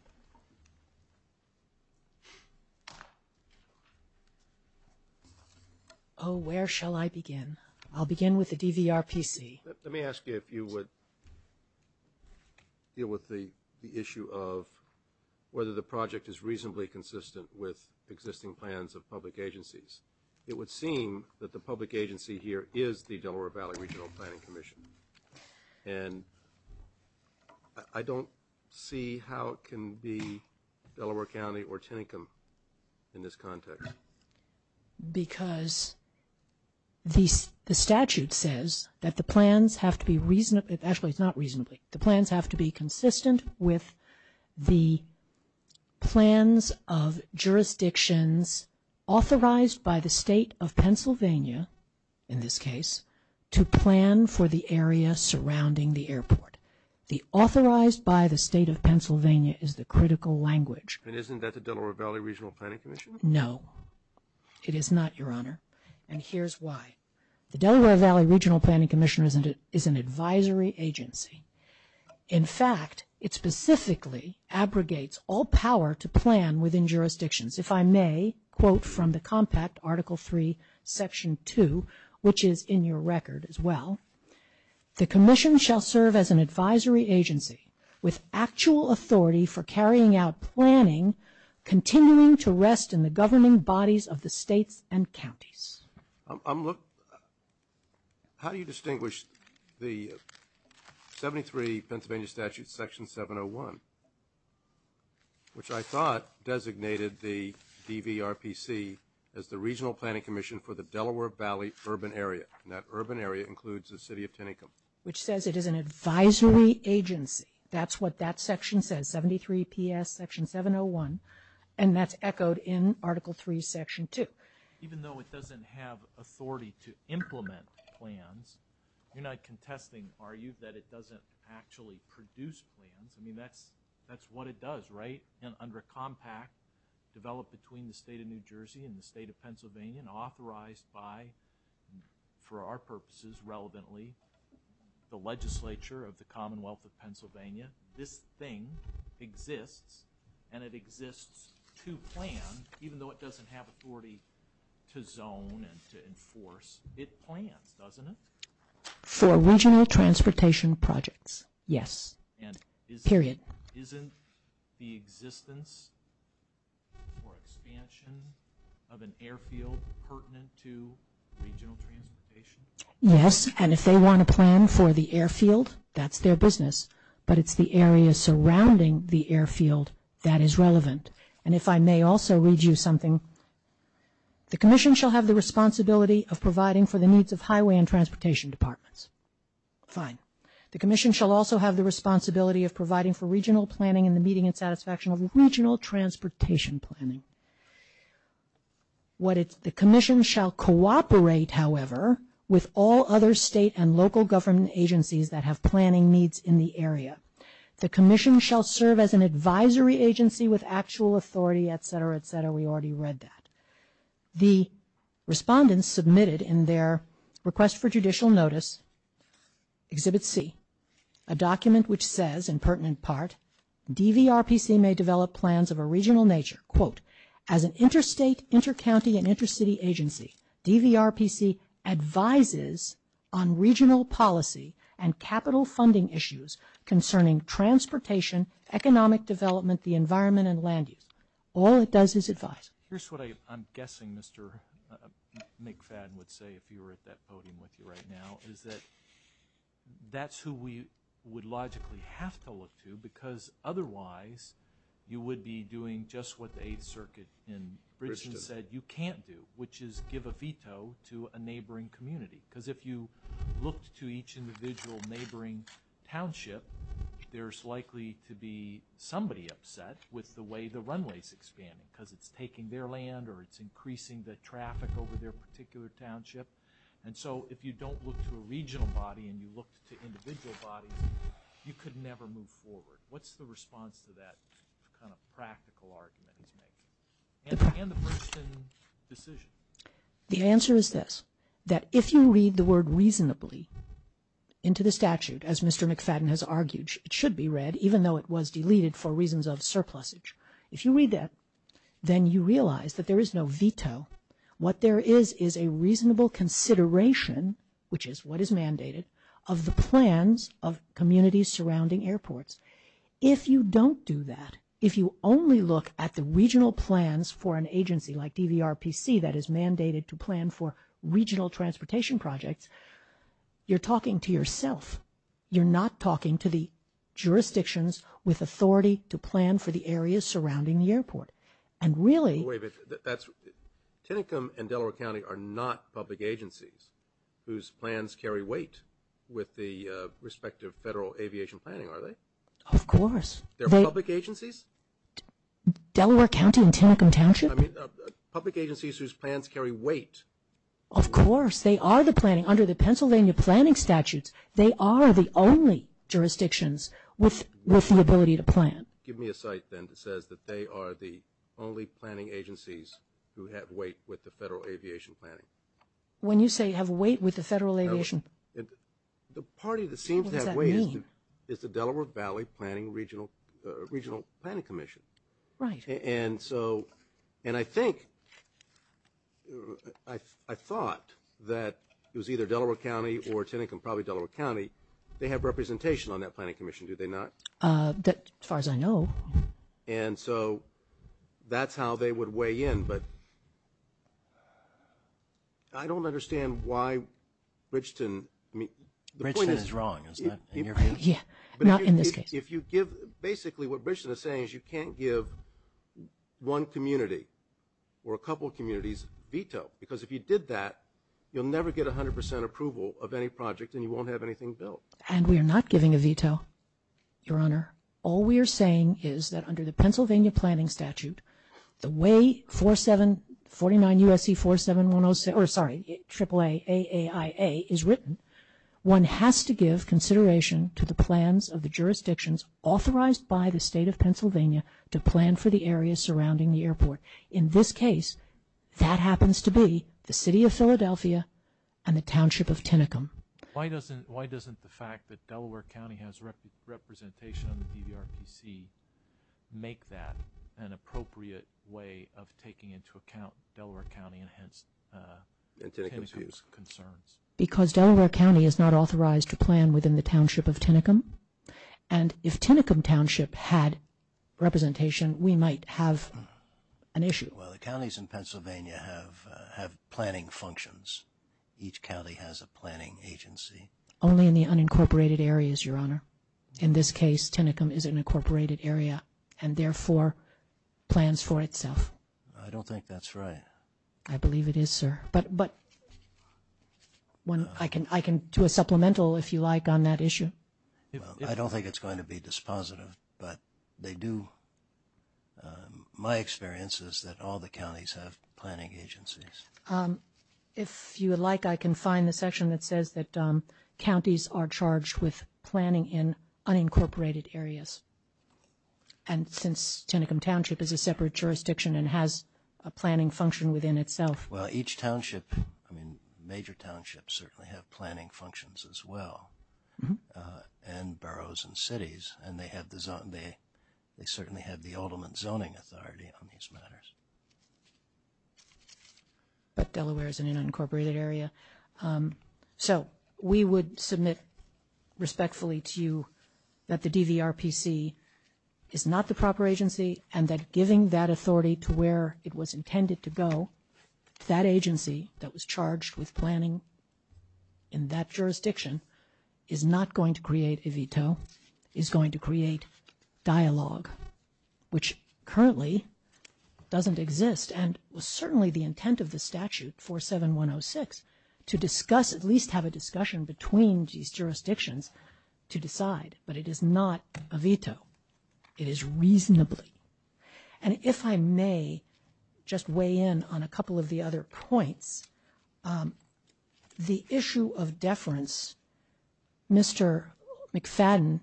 Oh, where shall I begin? I'll begin with the DVRPC. Let me ask you if you would deal with the issue of whether the project is reasonably consistent with existing plans of public agencies. It would seem that the public agency here is the Delaware Valley Regional Planning Commission. And I don't see how it can be Delaware County or Chinicum in this context. Because the statute says that the plans have to be reasonably, actually it's not reasonably, the plans have to be consistent with the plans of jurisdictions authorized by the State of Pennsylvania, in this case, to plan for the area surrounding the airport. The authorized by the State of Pennsylvania is the critical language. And isn't that the Delaware Valley Regional Planning Commission? No, it is not, Your Honor. And here's why. The Delaware Valley Regional Planning Commission is an advisory agency. In fact, it specifically abrogates all power to plan within jurisdictions. If I may quote from the compact, Article III, Section 2, which is in your record as well, the commission shall serve as an advisory agency with actual authority for carrying out planning, continuing to rest in the governing bodies of the states and counties. Look, how do you distinguish the 73 Pennsylvania Statutes, Section 701, which I thought designated the DVRPC as the Regional Planning Commission for the Delaware Valley Urban Area, and that urban area includes the City of Chinicum? Which says it is an advisory agency. That's what that section says, 73PS, Section 701, and that's echoed in Article III, Section 2. Even though it doesn't have authority to implement plans, you're not contesting, are you, that it doesn't actually produce plans? I mean, that's what it does, right? And under a compact developed between the State of New Jersey and the State of Pennsylvania and authorized by, for our purposes, relevantly, the legislature of the Commonwealth of Pennsylvania, this thing exists, and it exists to plan, even though it doesn't have authority to zone and to enforce. It plans, doesn't it? For regional transportation projects, yes. Period. Isn't the existence or expansion of an airfield pertinent to regional transportation? Yes, and if they want to plan for the airfield, that's their business, but it's the area surrounding the airfield that is relevant. And if I may also read you something, the commission shall have the responsibility of providing for the needs of highway and transportation departments. Fine. The commission shall also have the responsibility of providing for regional planning and the meeting and satisfaction of regional transportation planning. The commission shall cooperate, however, with all other state and local government agencies that have planning needs in the area. The commission shall serve as an advisory agency with actual authority, et cetera, et cetera. We already read that. The respondents submitted in their request for judicial notice, Exhibit C, a document which says, in pertinent part, DVRPC may develop plans of a regional nature. Quote, as an interstate, intercounty, and intercity agency, DVRPC advises on regional policy and capital funding issues concerning transportation, economic development, the environment, and land use. All it does is advise. Here's what I'm guessing Mr. McFadden would say if he were at that podium with you right now, is that that's who we would logically have to look to, because otherwise you would be doing just what the Eighth Circuit in Bridgeston said you can't do, which is give a veto to a neighboring community. Because if you looked to each individual neighboring township, there's likely to be somebody upset with the way the runway is expanding, because it's taking their land or it's increasing the traffic over their particular township. And so if you don't look to a regional body and you look to individual bodies, you could never move forward. What's the response to that kind of practical argument it's making, and the Bridgeston decision? The answer is this, that if you read the word reasonably into the statute, as Mr. McFadden has argued, it should be read, even though it was deleted for reasons of surplusage. If you read that, then you realize that there is no veto. What there is is a reasonable consideration, which is what is mandated, of the plans of communities surrounding airports. If you don't do that, if you only look at the regional plans for an agency like DVRPC that is mandated to plan for regional transportation projects, you're talking to yourself. You're not talking to the jurisdictions with authority to plan for the areas surrounding the airport. And really... Wait a minute. That's...Tinicum and Delaware County are not public agencies whose plans carry weight with the respective federal aviation planning, are they? Of course. They're public agencies? Delaware County and Tinicum Township? I mean, public agencies whose plans carry weight. Of course. They are the planning. Under the Pennsylvania planning statutes, they are the only jurisdictions with the ability to plan. Give me a cite then that says that they are the only planning agencies who have weight with the federal aviation planning. When you say have weight with the federal aviation... The party that seems that way is the Delaware Valley Planning Regional Planning Commission. Right. And I think... I thought that it was either Delaware County or Tinicum, probably Delaware County, they have representation on that planning commission, do they not? As far as I know. And so that's how they would weigh in. But I don't understand why Bridgeton... Bridgeton is wrong, isn't it? Yeah. Not in this case. If you give... Basically what Bridgeton is saying is you can't give one community or a couple of communities veto. Because if you did that, you'll never get 100% approval of any project, and you won't have anything built. And we are not giving a veto, Your Honor. All we are saying is that under the Pennsylvania planning statute, the way 49 U.S.C. 47106, or sorry, AAA, A-A-I-A is written, one has to give consideration to the plans of the jurisdictions authorized by the state of Pennsylvania to plan for the areas surrounding the airport. In this case, that happens to be the city of Philadelphia and the township of Tinicum. Why doesn't the fact that Delaware County has representation on the DVRPC make that an appropriate way of taking into account Delaware County and hence Tinicum's concerns? Because Delaware County is not authorized to plan within the township of Tinicum, and if Tinicum township had representation, we might have an issue. Well, the counties in Pennsylvania have planning functions. Each county has a planning agency. Only in the unincorporated areas, Your Honor. In this case, Tinicum is an incorporated area and therefore plans for itself. I believe it is, sir. But I can do a supplemental, if you like, on that issue. I don't think it's going to be dispositive, but they do. My experience is that all the counties have planning agencies. If you would like, I can find the section that says that counties are charged with planning in unincorporated areas. And since Tinicum township is a separate jurisdiction and has a planning function within itself. Well, each township, I mean, major townships certainly have planning functions as well, and boroughs and cities, and they certainly have the ultimate zoning authority on these matters. But Delaware is an unincorporated area. So we would submit respectfully to you that the DVRPC is not the proper agency and that giving that authority to where it was intended to go, that agency that was charged with planning in that jurisdiction, is not going to create a veto, is going to create dialogue, which currently doesn't exist and was certainly the intent of the statute 47106, to discuss, at least have a discussion between these jurisdictions to decide. But it is not a veto. It is reasonably. And if I may just weigh in on a couple of the other points, the issue of deference, Mr. McFadden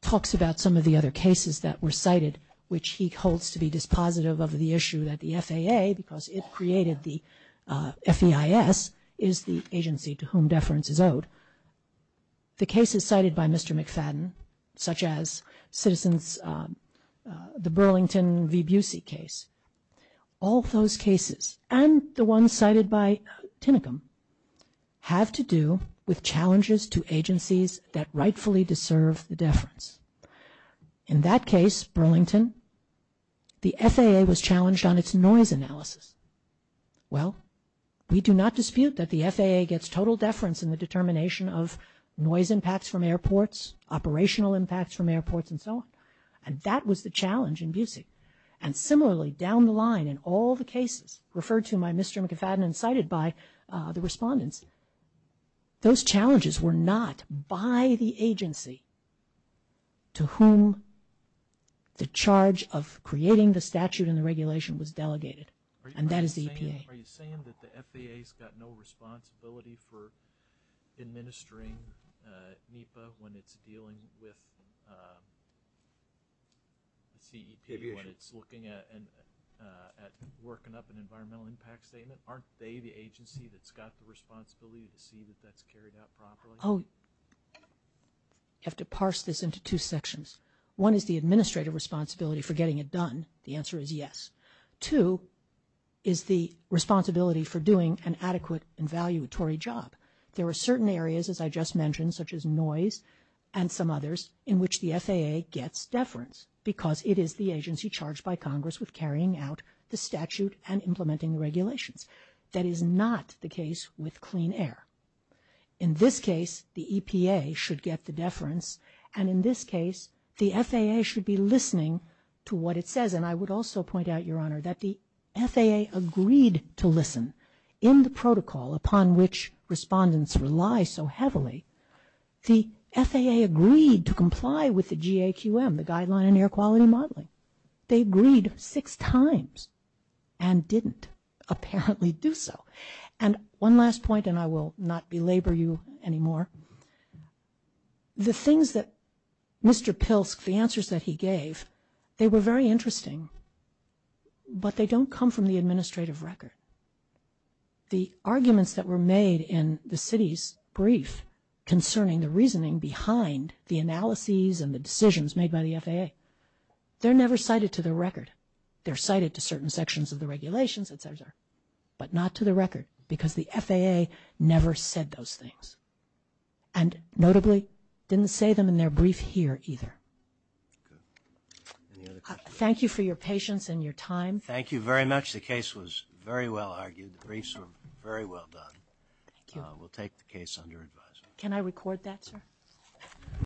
talks about some of the other cases that were cited, which he holds to be dispositive of the issue that the FAA, because it created the FEIS, the cases cited by Mr. McFadden, such as citizens, the Burlington v. Busey case, all those cases and the one cited by Tinicum, have to do with challenges to agencies that rightfully deserve the deference. In that case, Burlington, the FAA was challenged on its noise analysis. Well, we do not dispute that the FAA gets total deference in the determination of noise impacts from airports, operational impacts from airports, and so on. And that was the challenge in Busey. And similarly, down the line in all the cases referred to by Mr. McFadden and cited by the respondents, those challenges were not by the agency to whom the charge of creating the statute and the regulation was delegated. And that is the EPA. Are you saying that the FAA's got no responsibility for administering NEPA when it's dealing with the CEPA when it's looking at working up an environmental impact statement? Aren't they the agency that's got the responsibility to see that that's carried out properly? Oh, you have to parse this into two sections. One is the administrative responsibility for getting it done. The answer is yes. Two is the responsibility for doing an adequate and valuatory job. There are certain areas, as I just mentioned, such as noise and some others, in which the FAA gets deference because it is the agency charged by Congress with carrying out the statute and implementing the regulations. That is not the case with clean air. In this case, the EPA should get the deference. And in this case, the FAA should be listening to what it says. And I would also point out, Your Honor, that the FAA agreed to listen. In the protocol upon which respondents rely so heavily, the FAA agreed to comply with the GAQM, the Guideline on Air Quality Modeling. They agreed six times and didn't apparently do so. And one last point, and I will not belabor you anymore. The things that Mr. Pilsk, the answers that he gave, they were very interesting, but they don't come from the administrative record. The arguments that were made in the city's brief concerning the reasoning behind the analyses and the decisions made by the FAA, they're never cited to the record. They're cited to certain sections of the regulations, et cetera, but not to the record because the FAA never said those things and notably didn't say them in their brief here either. Thank you for your patience and your time. Thank you very much. The case was very well argued. The briefs were very well done. Can I record that, sir?